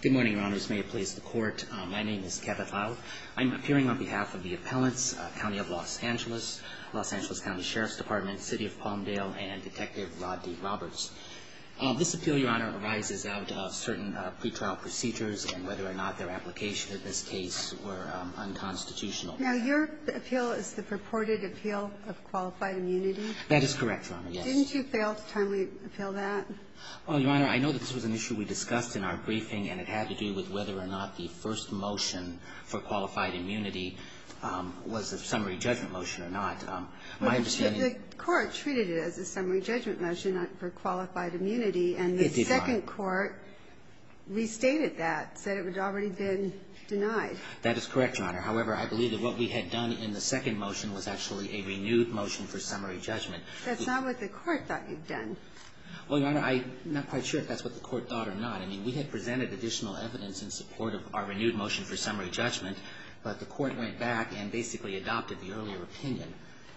Good morning, Your Honors. May it please the Court, my name is Kevin Lau. I'm appearing on behalf of the appellants, Cnty of Los Angeles, Los Angeles County Sheriff's Department, City of Palmdale, and Detective Rod D. Roberts. This appeal, Your Honor, arises out of certain pre-trial procedures and whether or not their application in this case were unconstitutional. Now, your appeal is the purported appeal of qualified immunity? That is correct, Your Honor, yes. Didn't you fail to timely appeal that? Well, Your Honor, I know that this was an issue we discussed in our briefing and it had to do with whether or not the first motion for qualified immunity was a summary judgment motion or not. The Court treated it as a summary judgment motion for qualified immunity and the second Court restated that, said it had already been denied. That is correct, Your Honor. However, I believe that what we had done in the second motion was actually a renewed motion for summary judgment. That's not what the Court thought you'd done. Well, Your Honor, I'm not quite sure if that's what the Court thought or not. I mean, we had presented additional evidence in support of our renewed motion for summary judgment, but the Court went back and basically adopted the earlier opinion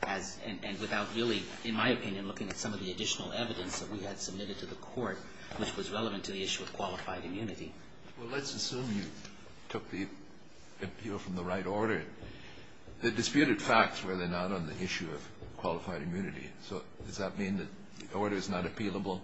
and without really, in my opinion, looking at some of the additional evidence that we had submitted to the Court which was relevant to the issue of qualified immunity. Well, let's assume you took the appeal from the right order. The disputed facts were then not on the issue of qualified immunity. So does that mean that the order is not appealable?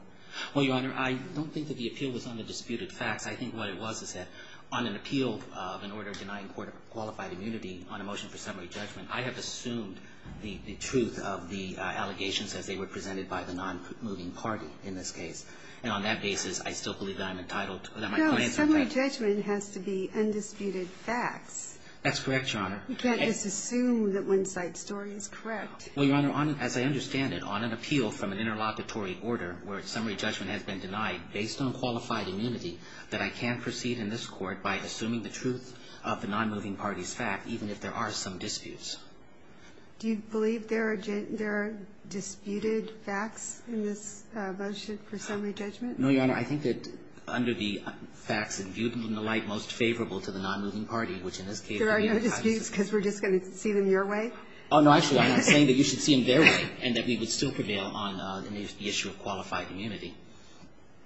Well, Your Honor, I don't think that the appeal was on the disputed facts. I think what it was is that on an appeal of an order denying qualified immunity on a motion for summary judgment, I have assumed the truth of the allegations as they were presented by the nonmoving party in this case. And on that basis, I still believe that I'm entitled to or that my clients are entitled to. No. Summary judgment has to be undisputed facts. That's correct, Your Honor. You can't just assume that one side's story is correct. Well, Your Honor, as I understand it, on an appeal from an interlocutory order where summary judgment has been denied based on qualified immunity, that I can proceed in this Court by assuming the truth of the nonmoving party's fact, even if there are some disputes. Do you believe there are disputed facts in this motion for summary judgment? No, Your Honor. I think that under the facts imbued in the light most favorable to the nonmoving party, which in this case are the entire system. There are no disputes because we're just going to see them your way? Oh, no. Actually, I'm not saying that you should see them their way and that we would still prevail on the issue of qualified immunity.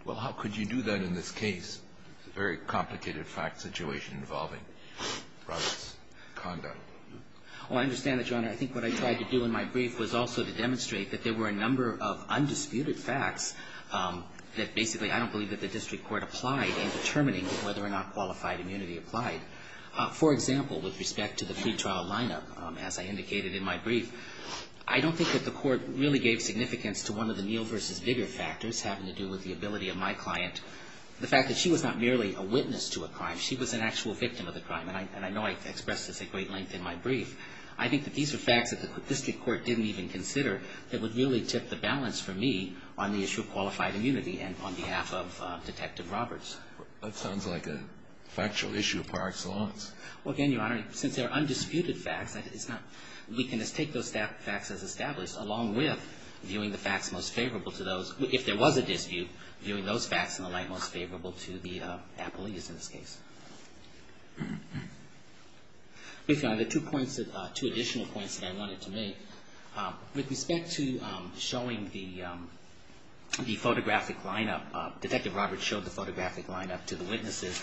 Well, how could you do that in this case? It's a very complicated fact situation involving Robert's conduct. Well, I understand that, Your Honor. I think what I tried to do in my brief was also to demonstrate that there were a number of undisputed facts that basically I don't believe that the district court applied in determining whether or not qualified immunity applied. For example, with respect to the free trial lineup, as I indicated in my brief, I don't think that the court really gave significance to one of the Neal v. Bigger factors having to do with the ability of my client, the fact that she was not merely a witness to a crime. She was an actual victim of the crime, and I know I expressed this at great length in my brief. I think that these are facts that the district court didn't even consider that would really tip the balance for me on the issue of qualified immunity and on behalf of Detective Roberts. That sounds like a factual issue of par excellence. Well, again, Your Honor, since they are undisputed facts, we can just take those facts as established, along with viewing the facts most favorable to those, if there was a dispute, viewing those facts in the light most favorable to the appellees in this case. Briefly, Your Honor, two additional points that I wanted to make. With respect to showing the photographic lineup, Detective Roberts showed the photographic lineup to the witnesses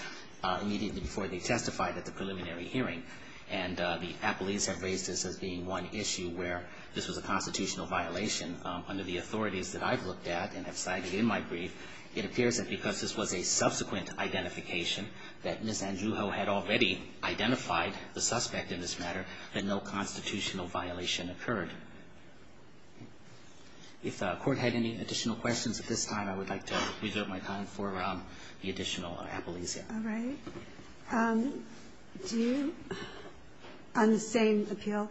immediately before they testified at the preliminary hearing, and the appellees have raised this as being one issue where this was a constitutional violation. Under the authorities that I've looked at and have cited in my brief, it appears that because this was a subsequent identification that Ms. Andrew Ho had already identified the suspect in this matter, that no constitutional violation occurred. If the court had any additional questions at this time, I would like to reserve my time for the additional appellees. All right. Do you, on the same appeal?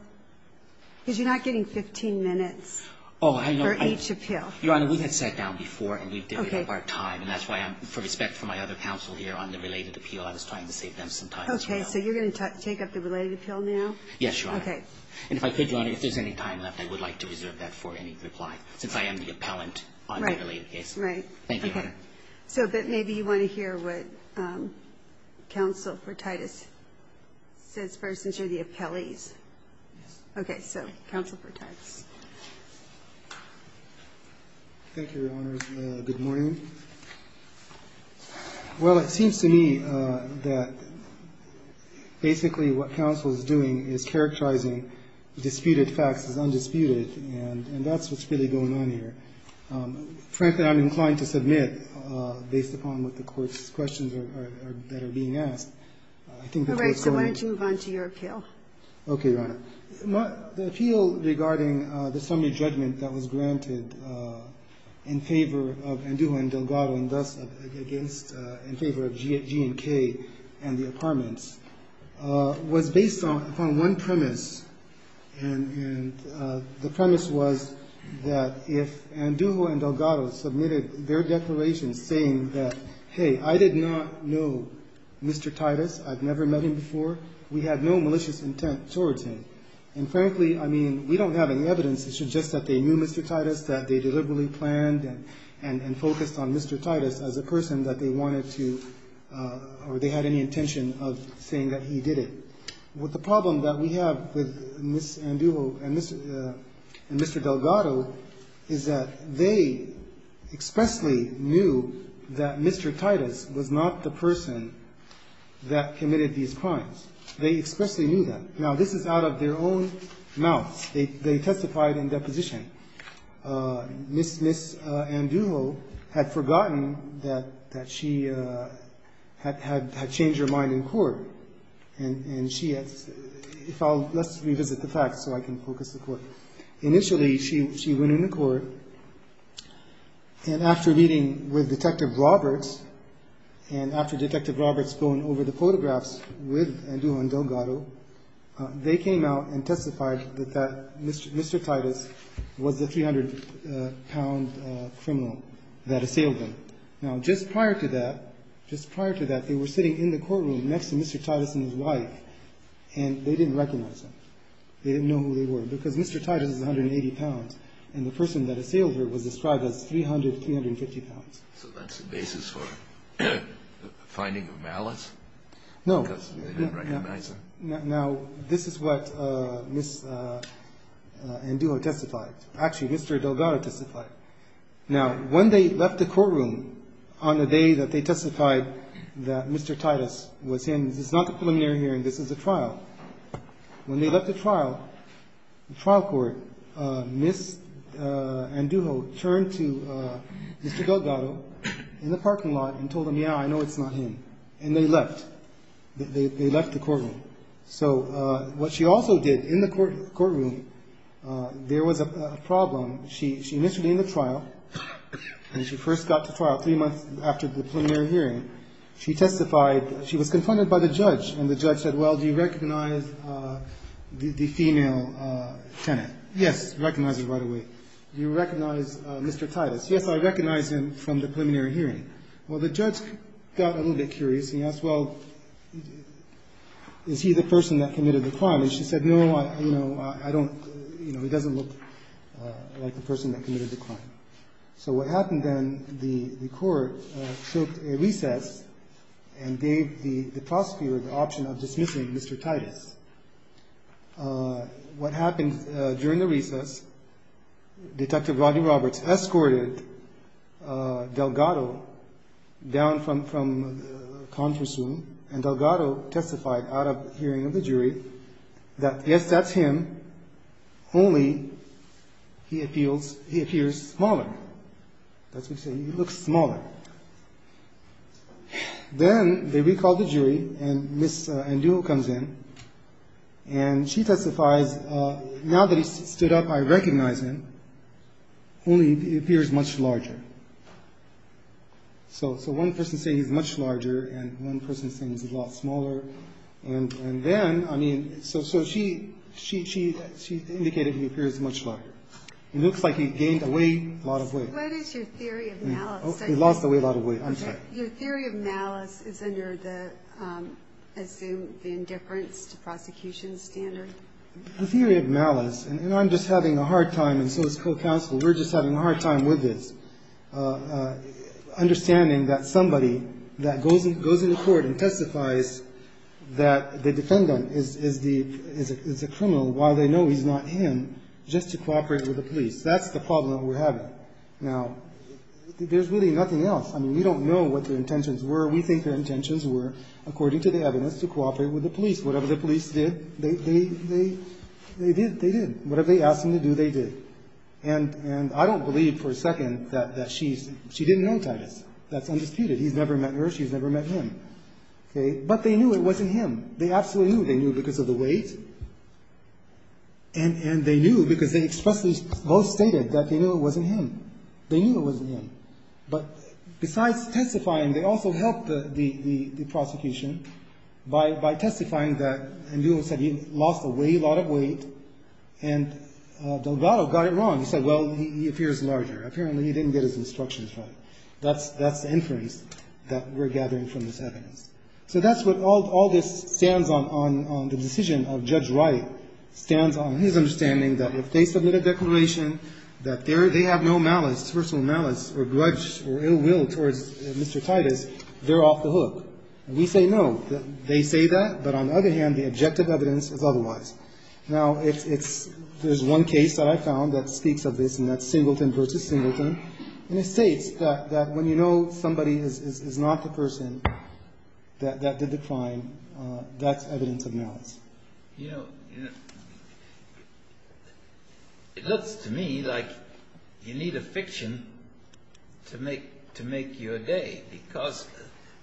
Because you're not getting 15 minutes for each appeal. Your Honor, we had sat down before, and we've divided up our time. And that's why, for respect for my other counsel here on the related appeal, I was trying to save them some time as well. Okay. So you're going to take up the related appeal now? Yes, Your Honor. Okay. And if I could, Your Honor, if there's any time left, I would like to reserve that for any reply, since I am the appellant on the related case. Right. Right. Thank you, Your Honor. Okay. So but maybe you want to hear what Counsel for Titus says first and show the appellees. Yes. Okay. So Counsel for Titus. Thank you, Your Honor. Good morning. Well, it seems to me that basically what counsel is doing is characterizing disputed facts as undisputed, and that's what's really going on here. Frankly, I'm inclined to submit based upon what the Court's questions are that are being asked. I think that's what's going on. All right. Okay, Your Honor. The appeal regarding the summary judgment that was granted in favor of Andujo and Delgado and thus against in favor of G&K and the apartments was based upon one premise, and the premise was that if Andujo and Delgado submitted their declaration saying that, Hey, I did not know Mr. Titus. I've never met him before. We had no malicious intent towards him. And frankly, I mean, we don't have any evidence that suggests that they knew Mr. Titus, that they deliberately planned and focused on Mr. Titus as a person that they wanted to or they had any intention of saying that he did it. The problem that we have with Ms. Andujo and Mr. Delgado is that they expressly knew that Mr. Titus was not the person that committed these crimes. They expressly knew that. Now, this is out of their own mouth. They testified in deposition. Ms. Andujo had forgotten that she had changed her mind in court, and she had – let's revisit the facts so I can focus the Court. Initially, she went into court, and after meeting with Detective Roberts and after Detective Roberts going over the photographs with Andujo and Delgado, they came out and testified that Mr. Titus was the 300-pound criminal that assailed them. Now, just prior to that, just prior to that, they were sitting in the courtroom next to Mr. Titus and his wife, and they didn't recognize him. They didn't know who they were because Mr. Titus is 180 pounds, and the person that assailed her was described as 300, 350 pounds. So that's the basis for the finding of malice? No. Because they didn't recognize him? No. Now, this is what Ms. Andujo testified. Actually, Mr. Delgado testified. Now, when they left the courtroom on the day that they testified that Mr. Titus was him, this is not a preliminary hearing. This is a trial. When they left the trial, the trial court, Ms. Andujo turned to Mr. Delgado in the parking lot and told him, yeah, I know it's not him, and they left. They left the courtroom. So what she also did in the courtroom, there was a problem. She initially in the trial, and she first got to trial three months after the preliminary hearing. She testified. She was confronted by the judge, and the judge said, well, do you recognize the female tenant? Yes, recognized her right away. Do you recognize Mr. Titus? Yes, I recognize him from the preliminary hearing. Well, the judge got a little bit curious. He asked, well, is he the person that committed the crime? And she said, no, I don't, you know, he doesn't look like the person that committed the crime. So what happened then, the court took a recess and gave the prosecutor the option of dismissing Mr. Titus. What happened during the recess, Detective Rodney Roberts escorted Delgado down from the conference room, and Delgado testified out of hearing of the jury that, yes, that's him, only he appears smaller. That's what she said, he looks smaller. Then they recalled the jury, and Ms. Andujo comes in, and she testifies, now that he stood up, I recognize him, only he appears much larger. So one person is saying he's much larger, and one person is saying he's a lot smaller. And then, I mean, so she indicated he appears much larger. It looks like he gained a lot of weight. What is your theory of malice? He lost a lot of weight, I'm sorry. Your theory of malice is under the, I assume, the indifference to prosecution standard? The theory of malice, and I'm just having a hard time, and so is co-counsel. We're just having a hard time with this, understanding that somebody that goes into court and testifies that the defendant is the criminal, while they know he's not him, just to cooperate with the police. That's the problem that we're having. Now, there's really nothing else. I mean, we don't know what their intentions were. We think their intentions were, according to the evidence, to cooperate with the police. Whatever the police did, they did. Whatever they asked them to do, they did. And I don't believe for a second that she didn't know Titus. That's undisputed. He's never met her. She's never met him. But they knew it wasn't him. They absolutely knew. They knew because of the weight, and they knew because they expressly both stated that they knew it wasn't him. They knew it wasn't him. But besides testifying, they also helped the prosecution by testifying that he lost a lot of weight, and Delgado got it wrong. He said, well, he appears larger. Apparently, he didn't get his instructions right. That's the inference that we're gathering from this evidence. So that's what all this stands on, the decision of Judge Wright stands on, his understanding that if they submit a declaration, that they have no malice, personal malice or grudge or ill will towards Mr. Titus, they're off the hook. We say no. They say that. But on the other hand, the objective evidence is otherwise. Now, there's one case that I found that speaks of this, and that's Singleton v. Singleton. And it states that when you know somebody is not the person that did the crime, that's evidence of malice. You know, it looks to me like you need a fiction to make your day, because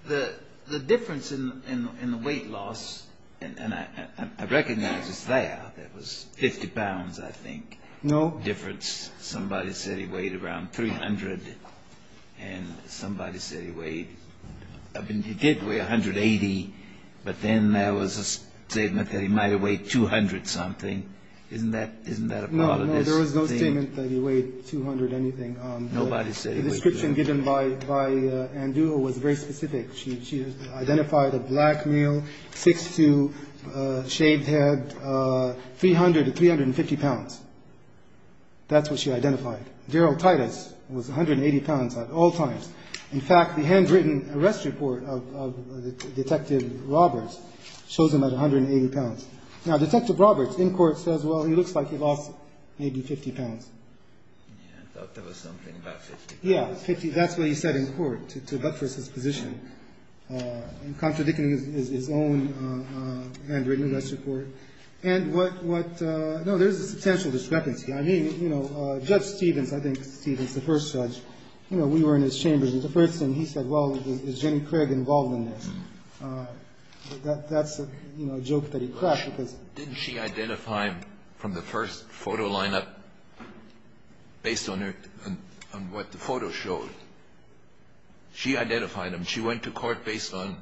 the difference in the weight loss, and I recognize it's there, it was 50 pounds, I think. No. Difference. Somebody said he weighed around 300, and somebody said he weighed, I mean, he did weigh 180, but then there was a statement that he might have weighed 200-something. Isn't that a part of this? No, no. There was no statement that he weighed 200-anything. Nobody said he weighed 200. The description given by Ann Dua was very specific. She identified a black male, 6'2", shaved head, 300 to 350 pounds. That's what she identified. Daryl Titus was 180 pounds at all times. In fact, the handwritten arrest report of Detective Roberts shows him at 180 pounds. Now, Detective Roberts in court says, well, he looks like he lost maybe 50 pounds. Yeah, I thought there was something about 50 pounds. Yeah, 50. That's what he said in court to buttress his position in contradicting his own handwritten arrest report. And what – no, there's a substantial discrepancy. I mean, you know, Judge Stevens, I think Stevens, the first judge, you know, we were in his chambers, and the first thing he said, well, is Jenny Craig involved in this? That's a joke that he cracked because – Didn't she identify him from the first photo lineup based on what the photo showed? She identified him. She went to court based on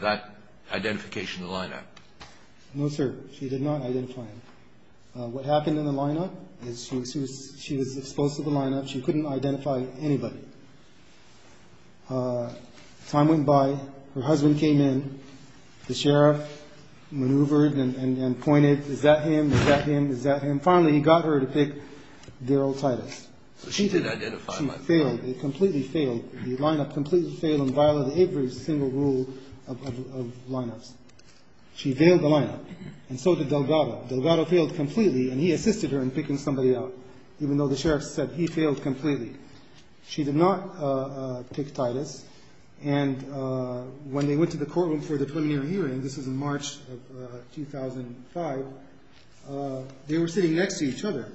that identification of the lineup. No, sir. She did not identify him. What happened in the lineup is she was exposed to the lineup. She couldn't identify anybody. Time went by. Her husband came in. The sheriff maneuvered and pointed, is that him? Is that him? Is that him? Finally, he got her to pick Darryl Titus. So she did identify him. She failed. They completely failed. The lineup completely failed in violating every single rule of lineups. She veiled the lineup. And so did Delgado. Delgado failed completely, and he assisted her in picking somebody out, even though the sheriff said he failed completely. She did not pick Titus. And when they went to the courtroom for the preliminary hearing, this was in March of 2005, they were sitting next to each other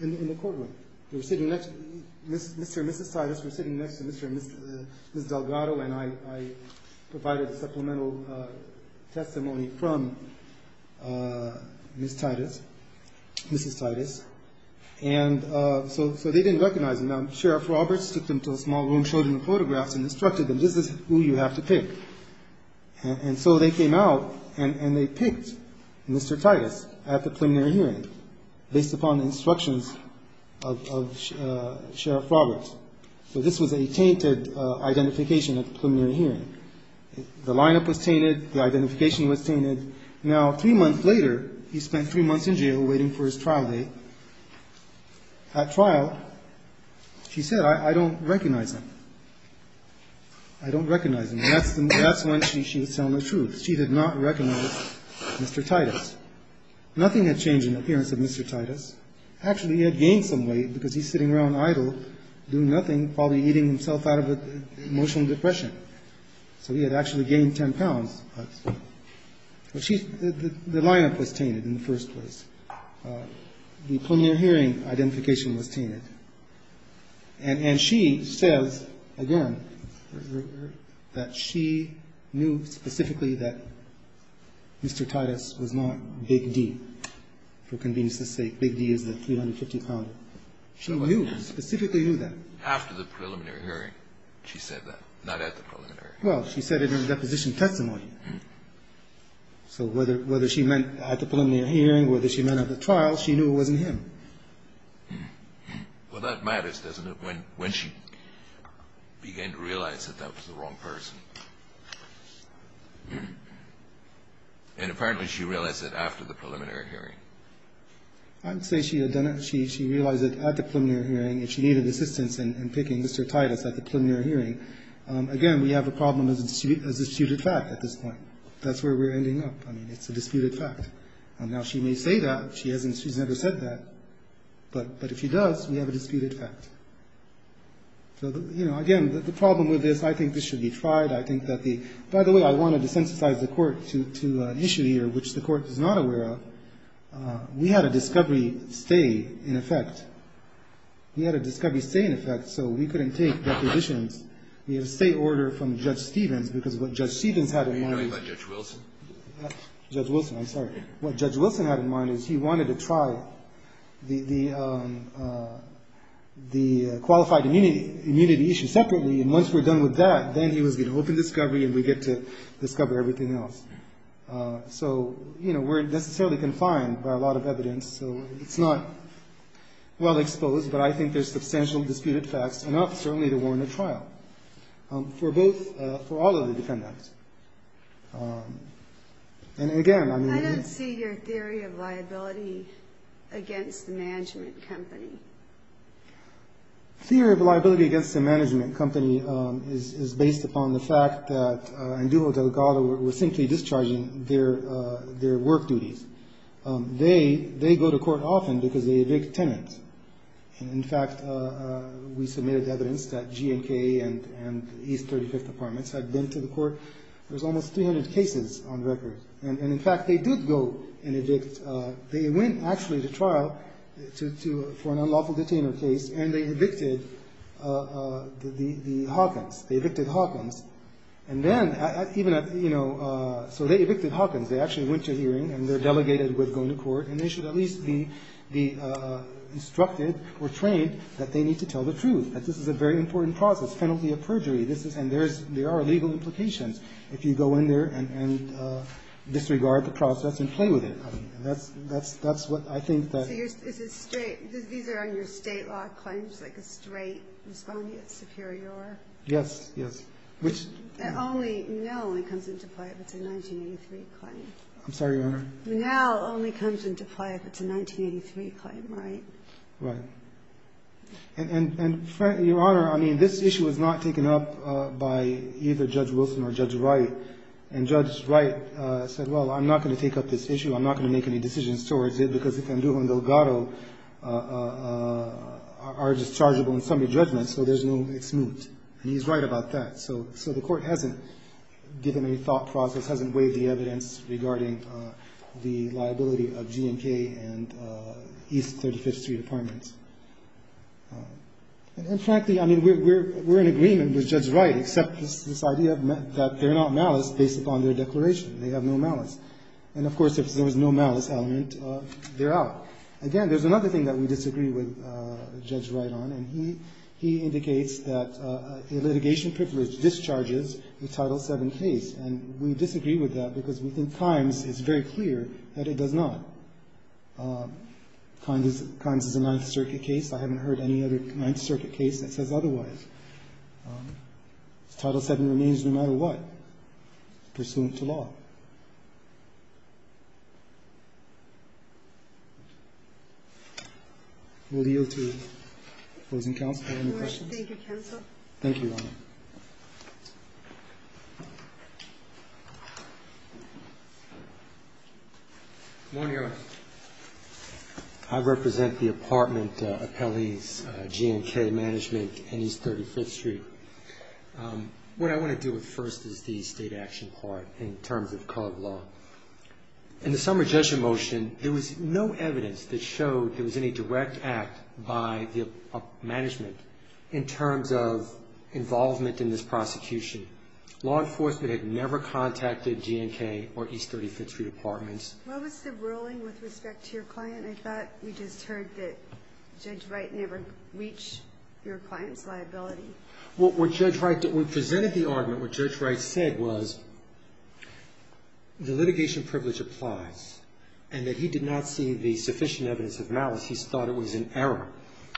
in the courtroom. They were sitting next – Mr. and Mrs. Titus were sitting next to Mr. and Mrs. Delgado, and I provided supplemental testimony from Mrs. Titus. And so they didn't recognize him. Now, Sheriff Roberts took them to a small room, showed them the photographs, and instructed them, this is who you have to pick. And so they came out, and they picked Mr. Titus at the preliminary hearing, based upon the instructions of Sheriff Roberts. So this was a tainted identification at the preliminary hearing. The lineup was tainted. The identification was tainted. Now, three months later, he spent three months in jail waiting for his trial date. At trial, she said, I don't recognize him. I don't recognize him. And that's when she was telling the truth. She did not recognize Mr. Titus. Nothing had changed in the appearance of Mr. Titus. Actually, he had gained some weight because he's sitting around idle, doing nothing, probably eating himself out of an emotional depression. So he had actually gained 10 pounds. But the lineup was tainted in the first place. The preliminary hearing identification was tainted. And she says, again, that she knew specifically that Mr. Titus was not Big D, for convenience's sake, Big D is the 350-pounder. She knew, specifically knew that. After the preliminary hearing, she said that, not at the preliminary hearing. Well, she said it in a deposition testimony. So whether she meant at the preliminary hearing, whether she meant at the trial, she knew it wasn't him. Well, that matters, doesn't it, when she began to realize that that was the wrong person. And apparently, she realized it after the preliminary hearing. I would say she had done it. She realized it at the preliminary hearing. If she needed assistance in picking Mr. Titus at the preliminary hearing, again, we have a problem as a disputed fact at this point. That's where we're ending up. I mean, it's a disputed fact. Now, she may say that. She hasn't. She's never said that. But if she does, we have a disputed fact. So, you know, again, the problem with this, I think this should be tried. I think that the – by the way, I wanted to synthesize the court to an issue here, which the court is not aware of. We had a discovery stay in effect. We had a discovery stay in effect, so we couldn't take depositions. We had a stay order from Judge Stevens, because what Judge Stevens had in mind – Are you talking about Judge Wilson? Judge Wilson, I'm sorry. What Judge Wilson had in mind is he wanted to try the qualified immunity issue separately, and once we're done with that, then he was going to open discovery and we get to discover everything else. So, you know, we're necessarily confined by a lot of evidence, so it's not well-exposed, but I think there's substantial disputed facts, enough certainly to warrant a trial for both – for all of the defendants. And, again, I mean – I don't see your theory of liability against the management company. Theory of liability against the management company is based upon the fact that Andujo Delgado was simply discharging their work duties. They go to court often because they evict tenants. In fact, we submitted evidence that GMK and East 35th Apartments had been to the court where there's almost 300 cases on record. And, in fact, they did go and evict – they went actually to trial for an unlawful detainer case and they evicted the Hawkins. They evicted Hawkins. And then, even at – you know, so they evicted Hawkins. They actually went to hearing and they're delegated with going to court, and they should at least be instructed or trained that they need to tell the truth, that this is a very important process, penalty of perjury. And there's – there are legal implications if you go in there and disregard the process and play with it. And that's – that's what I think that – So you're – is it straight – these are on your State law claims, like a straight respondeat superior? Yes. Yes. Which – That only – now only comes into play if it's a 1983 claim. I'm sorry, Your Honor. Now only comes into play if it's a 1983 claim, right? Right. And, Your Honor, I mean, this issue was not taken up by either Judge Wilson or Judge Wright. And Judge Wright said, well, I'm not going to take up this issue. I'm not going to make any decisions towards it, because the Conduva and Delgado are dischargeable in summary judgment, so there's no – it's moot. And he's right about that. So the Court hasn't given any thought process, hasn't waived the evidence regarding the liability of G&K and East 35th Street Apartments. And frankly, I mean, we're in agreement with Judge Wright, except this idea that they're not malice based upon their declaration. They have no malice. And, of course, if there was no malice element, they're out. Again, there's another thing that we disagree with Judge Wright on, and he indicates that a litigation privilege discharges the Title VII case. And we disagree with that, because within times, it's very clear that it does not. Kimes is a Ninth Circuit case. I haven't heard any other Ninth Circuit case that says otherwise. Title VII remains no matter what, pursuant to law. We'll yield to opposing counsel for any questions. Thank you, counsel. Thank you, Your Honor. Good morning, Your Honor. I represent the apartment appellees, G&K Management, and East 35th Street. What I want to deal with first is the state action part, in terms of current law. In the summer judgment motion, there was no evidence that showed there was any direct act by the management in terms of involvement in this prosecution. Law enforcement had never contacted G&K or East 35th Street Apartments. What was the ruling with respect to your client? I thought we just heard that Judge Wright never reached your client's liability. Well, what Judge Wright did, we presented the argument. What Judge Wright said was the litigation privilege applies, and that he did not see the sufficient evidence of malice. He thought it was an error.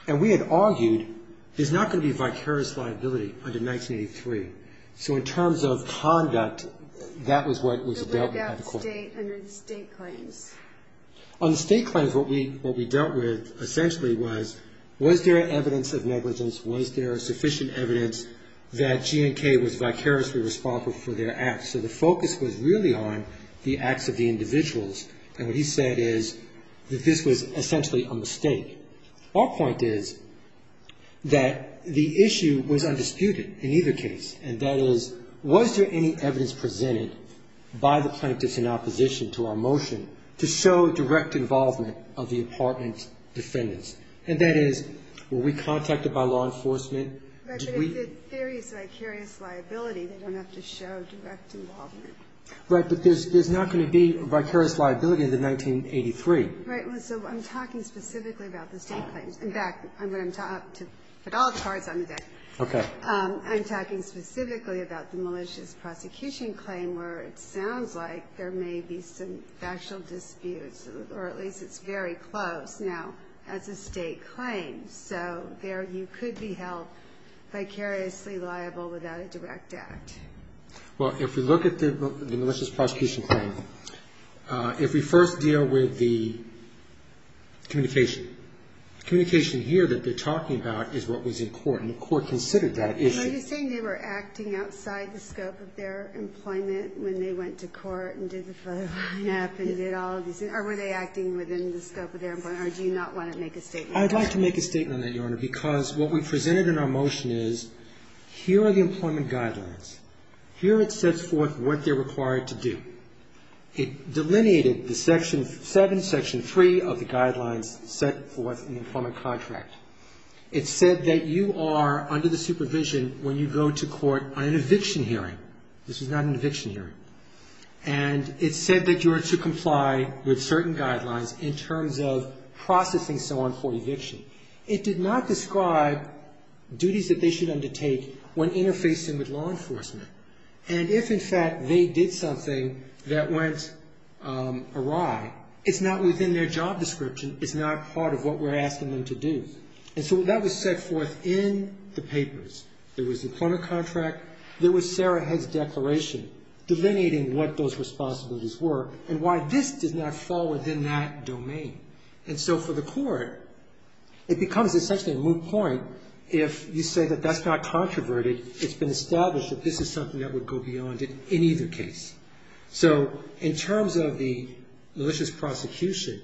And we had argued there's not going to be vicarious liability under 1983. So in terms of conduct, that was what was dealt with at the court. But look at the state under the state claims. On the state claims, what we dealt with essentially was, was there evidence of negligence? Was there sufficient evidence that G&K was vicariously responsible for their acts? So the focus was really on the acts of the individuals. And what he said is that this was essentially a mistake. Our point is that the issue was undisputed in either case, and that is, was there any evidence presented by the plaintiffs in opposition to our motion to show direct involvement of the apartment defendants? And that is, were we contacted by law enforcement? But if the theory is vicarious liability, they don't have to show direct involvement. Right, but there's not going to be vicarious liability under 1983. Right. So I'm talking specifically about the state claims. In fact, I'm going to put all the cards on the deck. Okay. I'm talking specifically about the malicious prosecution claim, where it sounds like there may be some factual disputes, or at least it's very close now as a state claim. So there you could be held vicariously liable without a direct act. Well, if we look at the malicious prosecution claim, if we first deal with the communication, the communication here that they're talking about is what was in court, and the court considered that issue. Are you saying they were acting outside the scope of their employment when they went to court and did the photo op and did all of these things, or were they acting within the scope of their employment, or do you not want to make a statement on that? I'd like to make a statement on that, Your Honor, because what we presented in our motion is here are the employment guidelines. Here it sets forth what they're required to do. It delineated the section 7, section 3 of the guidelines set forth in the employment contract. It said that you are under the supervision when you go to court on an eviction hearing. This is not an eviction hearing. And it said that you are to comply with certain guidelines in terms of processing someone for eviction. It did not describe duties that they should undertake when interfacing with law enforcement. And if, in fact, they did something that went awry, it's not within their job description. It's not part of what we're asking them to do. And so that was set forth in the papers. There was the employment contract. There was Sarah Head's declaration delineating what those responsibilities were and why this did not fall within that domain. And so for the court, it becomes essentially a moot point if you say that that's not controverted. It's been established that this is something that would go beyond it in either case. So in terms of the malicious prosecution,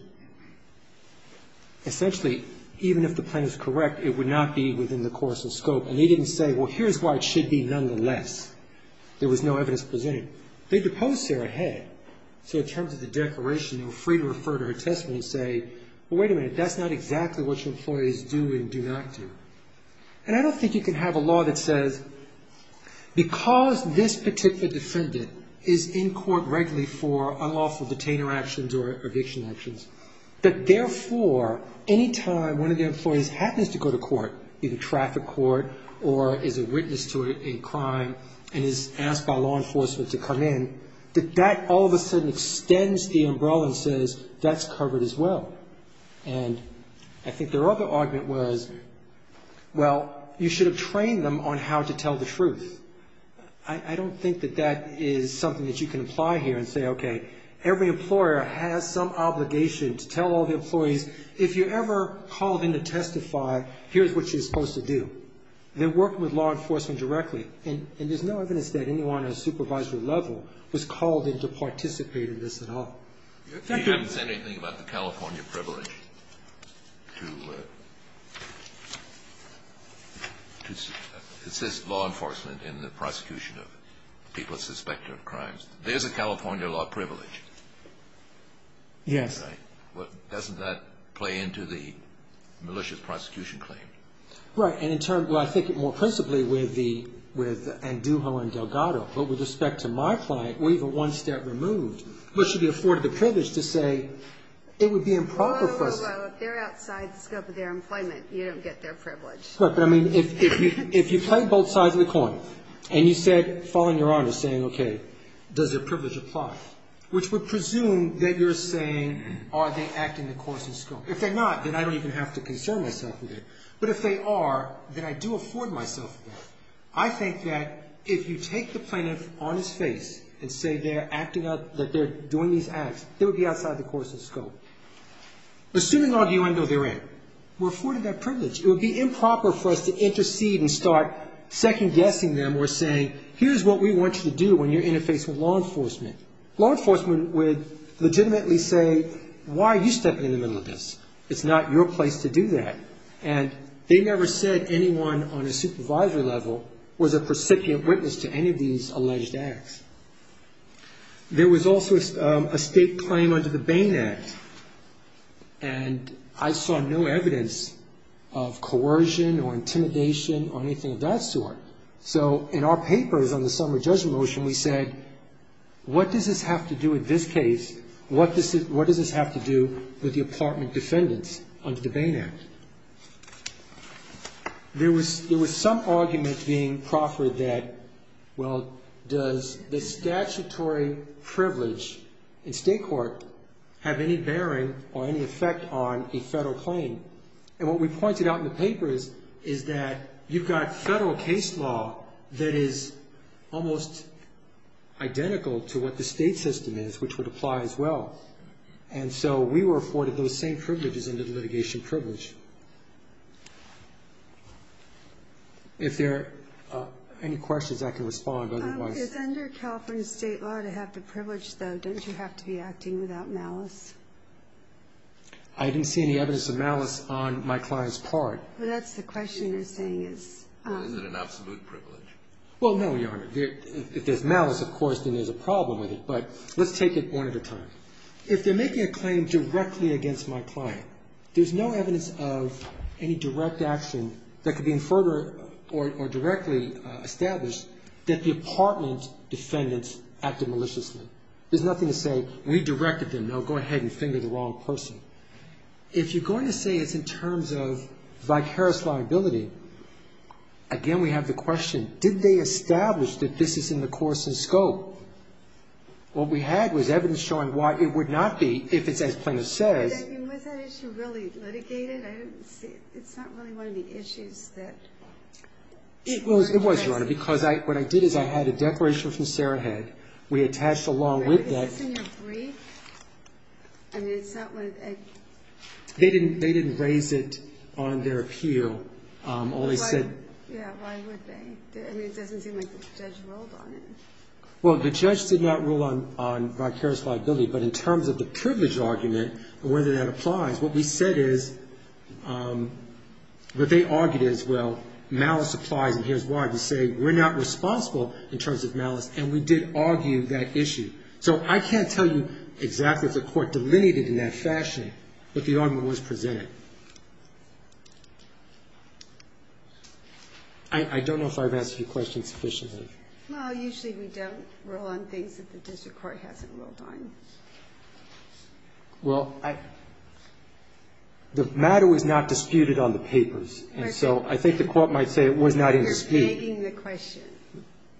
essentially, even if the plan is correct, it would not be within the course and scope. And they didn't say, well, here's why it should be nonetheless. There was no evidence presented. They deposed Sarah Head. So in terms of the declaration, they were free to refer to her testimony and say, well, wait a minute, that's not exactly what your employees do and do not do. And I don't think you can have a law that says because this particular defendant is in court regularly for unlawful detainer actions or eviction actions, that, therefore, any time one of their employees happens to go to court, either traffic court or is a witness to a crime and is asked by law enforcement to come in, that that all of a sudden extends the umbrella and says, that's covered as well. And I think their other argument was, well, you should have trained them on how to tell the truth. I don't think that that is something that you can apply here and say, okay, every employer has some obligation to tell all the employees, if you ever call them to testify, here's what you're supposed to do. They're working with law enforcement directly, and there's no evidence that anyone on a supervisory level was called in to participate in this at all. You haven't said anything about the California privilege to assist law enforcement in the prosecution of people suspected of crimes. There's a California law privilege. Yes. Doesn't that play into the malicious prosecution claim? Right. And in terms, well, I think it more principally with Andujo and Delgado. But with respect to my client, we're even one step removed. We should be afforded the privilege to say it would be improper for us. Whoa, whoa, whoa. If they're outside the scope of their employment, you don't get their privilege. Right. But, I mean, if you play both sides of the coin, and you said, following Your Honor's saying, okay, does their privilege apply, which would presume that you're saying, are they acting the course of scope? If they're not, then I don't even have to concern myself with it. But if they are, then I do afford myself with it. I think that if you take the plaintiff on his face and say they're acting up, that they're doing these acts, they would be outside the course of scope. Assuming, on the other hand, we're afforded that privilege, it would be improper for us to intercede and start second-guessing them or saying, here's what we want you to do when you're interfacing with law enforcement. Law enforcement would legitimately say, why are you stepping in the middle of this? It's not your place to do that. And they never said anyone on a supervisory level was a persecutant witness to any of these alleged acts. There was also a state claim under the Bain Act, and I saw no evidence of coercion or intimidation or anything of that sort. So in our papers on the summary judgment motion, we said, what does this have to do with this case? What does this have to do with the apartment defendants under the Bain Act? There was some argument being proffered that, well, does the statutory privilege in state court have any bearing or any effect on a federal claim? And what we pointed out in the papers is that you've got federal case law that is almost identical to what the state system is, which would apply as well. And so we were afforded those same privileges under the litigation privilege. If there are any questions, I can respond. It's under California state law to have the privilege, though. Don't you have to be acting without malice? I didn't see any evidence of malice on my client's part. Well, that's the question you're saying is. Is it an absolute privilege? Well, no, Your Honor. If there's malice, of course, then there's a problem with it. But let's take it one at a time. If they're making a claim directly against my client, there's no evidence of any direct action that could be inferred or directly established that the apartment defendants acted maliciously. There's nothing to say, we directed them. No, go ahead and finger the wrong person. If you're going to say it's in terms of vicarious liability, again, we have the question, did they establish that this is in the course and scope? What we had was evidence showing why it would not be if it's as plaintiff says. Was that issue really litigated? I don't see it. It's not really one of the issues that she was addressing. It was, Your Honor, because what I did is I had a declaration from Sarah Head. We attached along with that. Is this in your brief? I mean, it's not what it – They didn't raise it on their appeal. Why would they? I mean, it doesn't seem like the judge ruled on it. Well, the judge did not rule on vicarious liability, but in terms of the privilege argument and whether that applies, what we said is – what they argued is, well, malice applies, and here's why. We say we're not responsible in terms of malice, and we did argue that issue. So I can't tell you exactly if the court delineated in that fashion what the argument was presented. I don't know if I've answered your question sufficiently. Well, usually we don't rule on things that the district court hasn't ruled on. Well, the matter was not disputed on the papers, and so I think the court might say it was not in dispute. You're fading the question.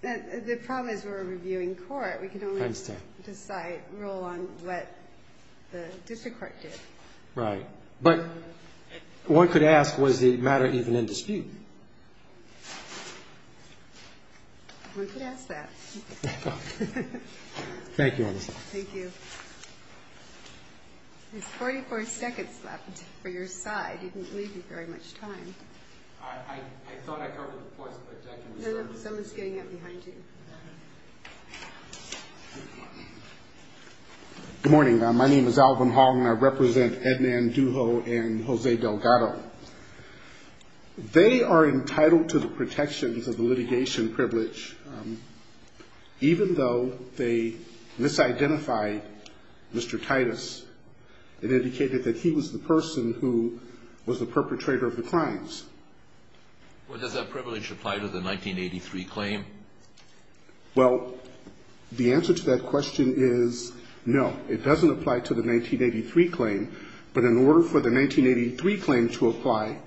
The problem is we're a reviewing court. We can only decide, rule on what the district court did. Right. But one could ask, was the matter even in dispute? One could ask that. Thank you, Your Honor. Thank you. There's 44 seconds left for your side. You didn't leave me very much time. I thought I covered the points, but I can reserve them. No, no, someone's getting up behind you. Good morning. My name is Alvin Hong, and I represent Edmond Duho and Jose Delgado. They are entitled to the protections of the litigation privilege, even though they misidentified Mr. Titus and indicated that he was the person who was the perpetrator of the crimes. Well, does that privilege apply to the 1983 claim? Well, the answer to that question is no. It doesn't apply to the 1983 claim. But in order for the 1983 claim to apply,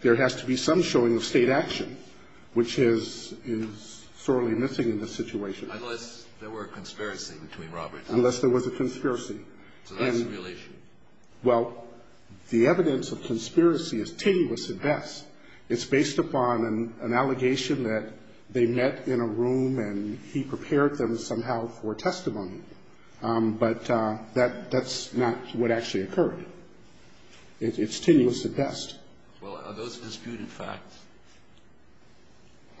there has to be some showing of state action, which is sorely missing in this situation. Unless there were a conspiracy between Robert and Titus. Unless there was a conspiracy. So that's a real issue. Well, the evidence of conspiracy is tenuous at best. It's based upon an allegation that they met in a room and he prepared them somehow for testimony. But that's not what actually occurred. It's tenuous at best. Well, are those disputed facts?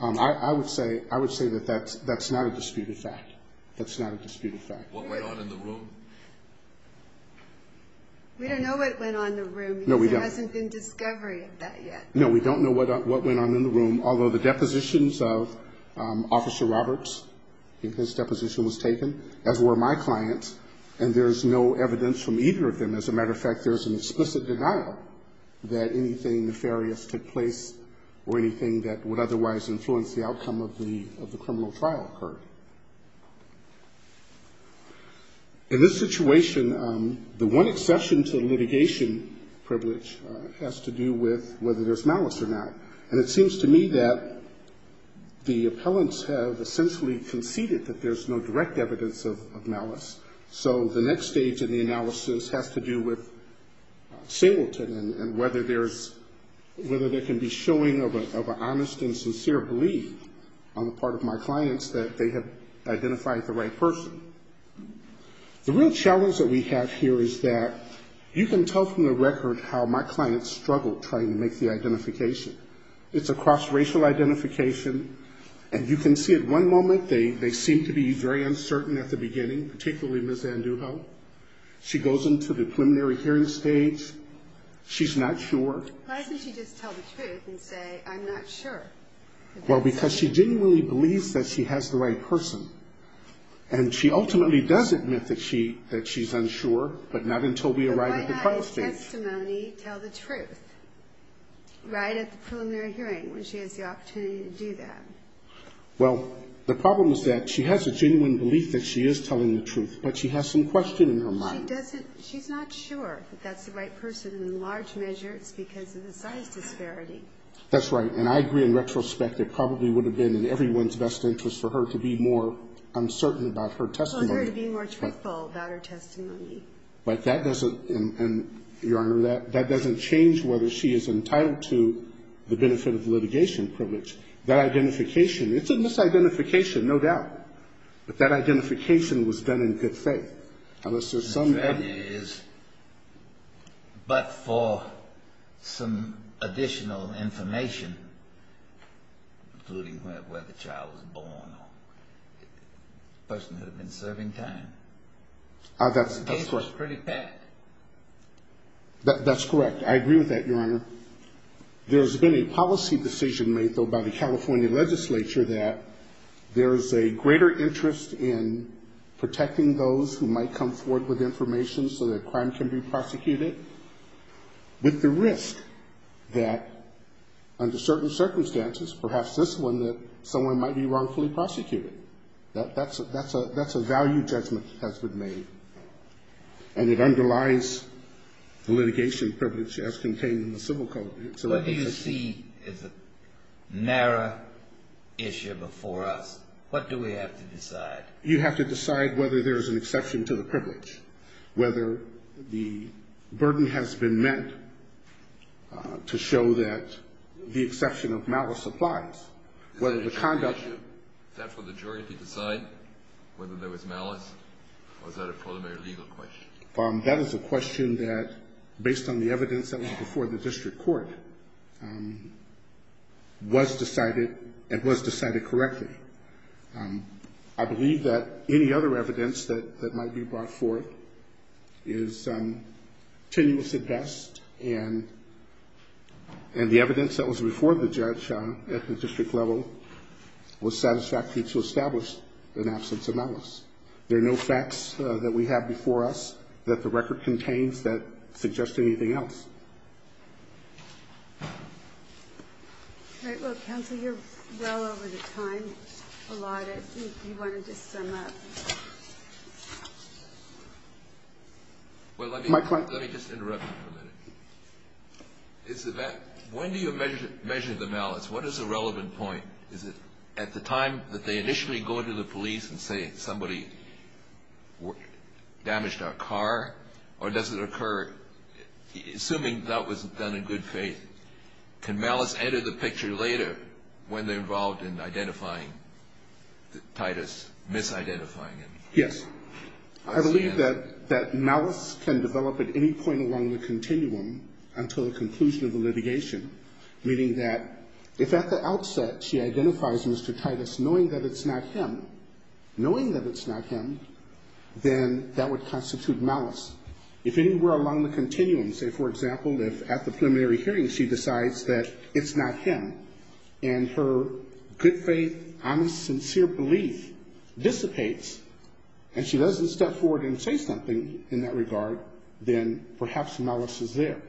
I would say that that's not a disputed fact. That's not a disputed fact. What went on in the room? We don't know what went on in the room because there hasn't been discovery of that yet. No, we don't know what went on in the room, although the depositions of Officer Roberts, if his deposition was taken, as were my clients, and there's no evidence from either of them. As a matter of fact, there's an explicit denial that anything nefarious took place or anything that would otherwise influence the outcome of the criminal trial occurred. In this situation, the one exception to the litigation privilege has to do with whether there's malice or not. And it seems to me that the appellants have essentially conceded that there's no direct evidence of malice. So the next stage of the analysis has to do with Singleton and whether there can be showing of an honest and sincere belief on the part of my clients that they have identified the right person. The real challenge that we have here is that you can tell from the record how my clients struggled trying to make the identification. It's a cross-racial identification, and you can see at one moment they seem to be very uncertain at the beginning, particularly Ms. Andujo. She goes into the preliminary hearing stage. She's not sure. Why doesn't she just tell the truth and say, I'm not sure? Well, because she genuinely believes that she has the right person. And she ultimately does admit that she's unsure, but not until we arrive at the trial stage. Why doesn't her testimony tell the truth right at the preliminary hearing when she has the opportunity to do that? Well, the problem is that she has a genuine belief that she is telling the truth, but she has some question in her mind. She's not sure that that's the right person. In large measure, it's because of the size disparity. That's right. And I agree, in retrospect, it probably would have been in everyone's best interest for her to be more uncertain about her testimony. For her to be more truthful about her testimony. And, Your Honor, that doesn't change whether she is entitled to the benefit of litigation privilege. That identification, it's a misidentification, no doubt. But that identification was done in good faith. But for some additional information, including where the child was born or the person who had been serving time, the case was pretty packed. That's correct. I agree with that, Your Honor. There's been a policy decision made, though, by the California legislature that there's a greater interest in protecting those who might come forward with information so that crime can be prosecuted, with the risk that, under certain circumstances, perhaps this one, that someone might be wrongfully prosecuted. That's a value judgment that has been made. And it underlies the litigation privilege as contained in the Civil Code. What do you see as a narrow issue before us? What do we have to decide? You have to decide whether there's an exception to the privilege, whether the burden has been met to show that the exception of malice applies. Is that for the jury to decide whether there was malice? Or is that a preliminary legal question? That is a question that, based on the evidence that was before the district court, was decided and was decided correctly. I believe that any other evidence that might be brought forth is tenuous at best. And the evidence that was before the judge at the district level was satisfactory to establish an absence of malice. There are no facts that we have before us that the record contains that suggest anything else. All right. Well, counsel, you're well over the time allotted. Do you want to just sum up? Well, let me just interrupt you for a minute. When do you measure the malice? What is the relevant point? Is it at the time that they initially go to the police and say somebody damaged our car? Or does it occur, assuming that was done in good faith, can malice enter the picture later when they're involved in identifying Titus, misidentifying Titus? Yes. I believe that malice can develop at any point along the continuum until the conclusion of the litigation, meaning that if at the outset she identifies Mr. Titus knowing that it's not him, knowing that it's not him, then that would constitute malice. If anywhere along the continuum, say, for example, if at the preliminary hearing she decides that it's not him and her good faith, honest, sincere belief dissipates and she doesn't step forward and say something in that regard, then perhaps malice is there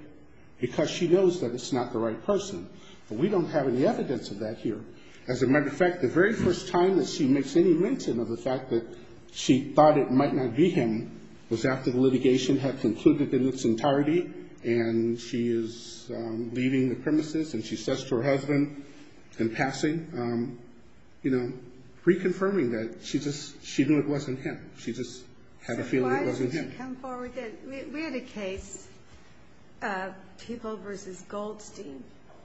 because she knows that it's not the right person. But we don't have any evidence of that here. As a matter of fact, the very first time that she makes any mention of the fact that she thought it might not be him was after the litigation had concluded in its entirety and she is leaving the premises and she says to her husband in passing, you know, reconfirming that she knew it wasn't him. She just had a feeling it wasn't him. So why did she come forward then? We had a case, Peeble v. Goldstein,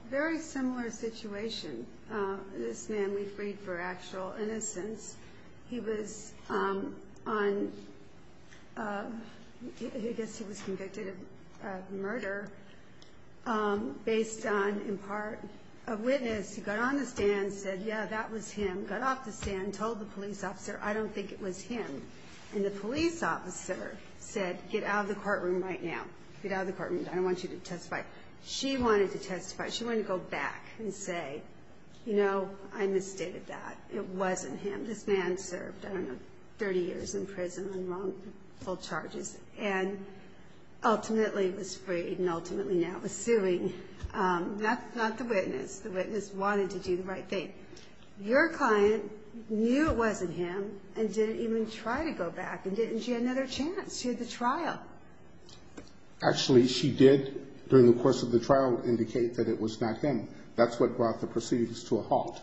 very similar situation. This man we freed for actual innocence. He was on, I guess he was convicted of murder based on, in part, a witness who got on the stand and said, yeah, that was him, got off the stand, told the police officer, I don't think it was him. And the police officer said, get out of the courtroom right now. Get out of the courtroom. I don't want you to testify. She wanted to testify. She wanted to go back and say, you know, I misstated that. It wasn't him. This man served, I don't know, 30 years in prison on wrongful charges and ultimately was freed and ultimately now is suing. Not the witness. The witness wanted to do the right thing. Your client knew it wasn't him and didn't even try to go back and didn't. She had another chance. She had the trial. Actually, she did, during the course of the trial, indicate that it was not him. That's what brought the proceedings to a halt.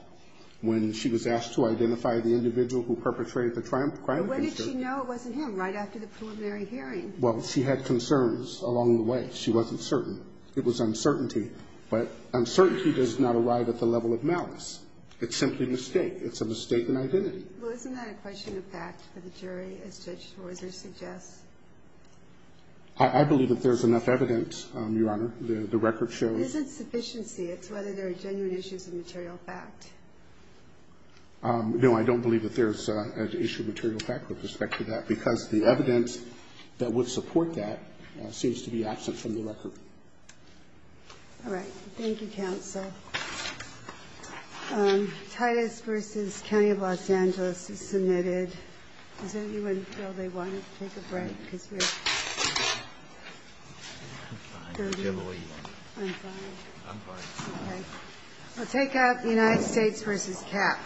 When she was asked to identify the individual who perpetrated the crime. When did she know it wasn't him? Right after the preliminary hearing. Well, she had concerns along the way. She wasn't certain. It was uncertainty. But uncertainty does not arrive at the level of malice. It's simply a mistake. It's a mistake in identity. Well, isn't that a question of fact for the jury, as Judge Swarzer suggests? I believe that there's enough evidence, Your Honor. The record shows. It isn't sufficiency. It's whether there are genuine issues of material fact. No, I don't believe that there's an issue of material fact with respect to that. Because the evidence that would support that seems to be absent from the record. All right. Thank you, counsel. Titus v. County of Los Angeles is submitted. Does anyone feel they want to take a break? I'm fine. I'm fine. I'm fine. Okay. We'll take out the United States v. Cap.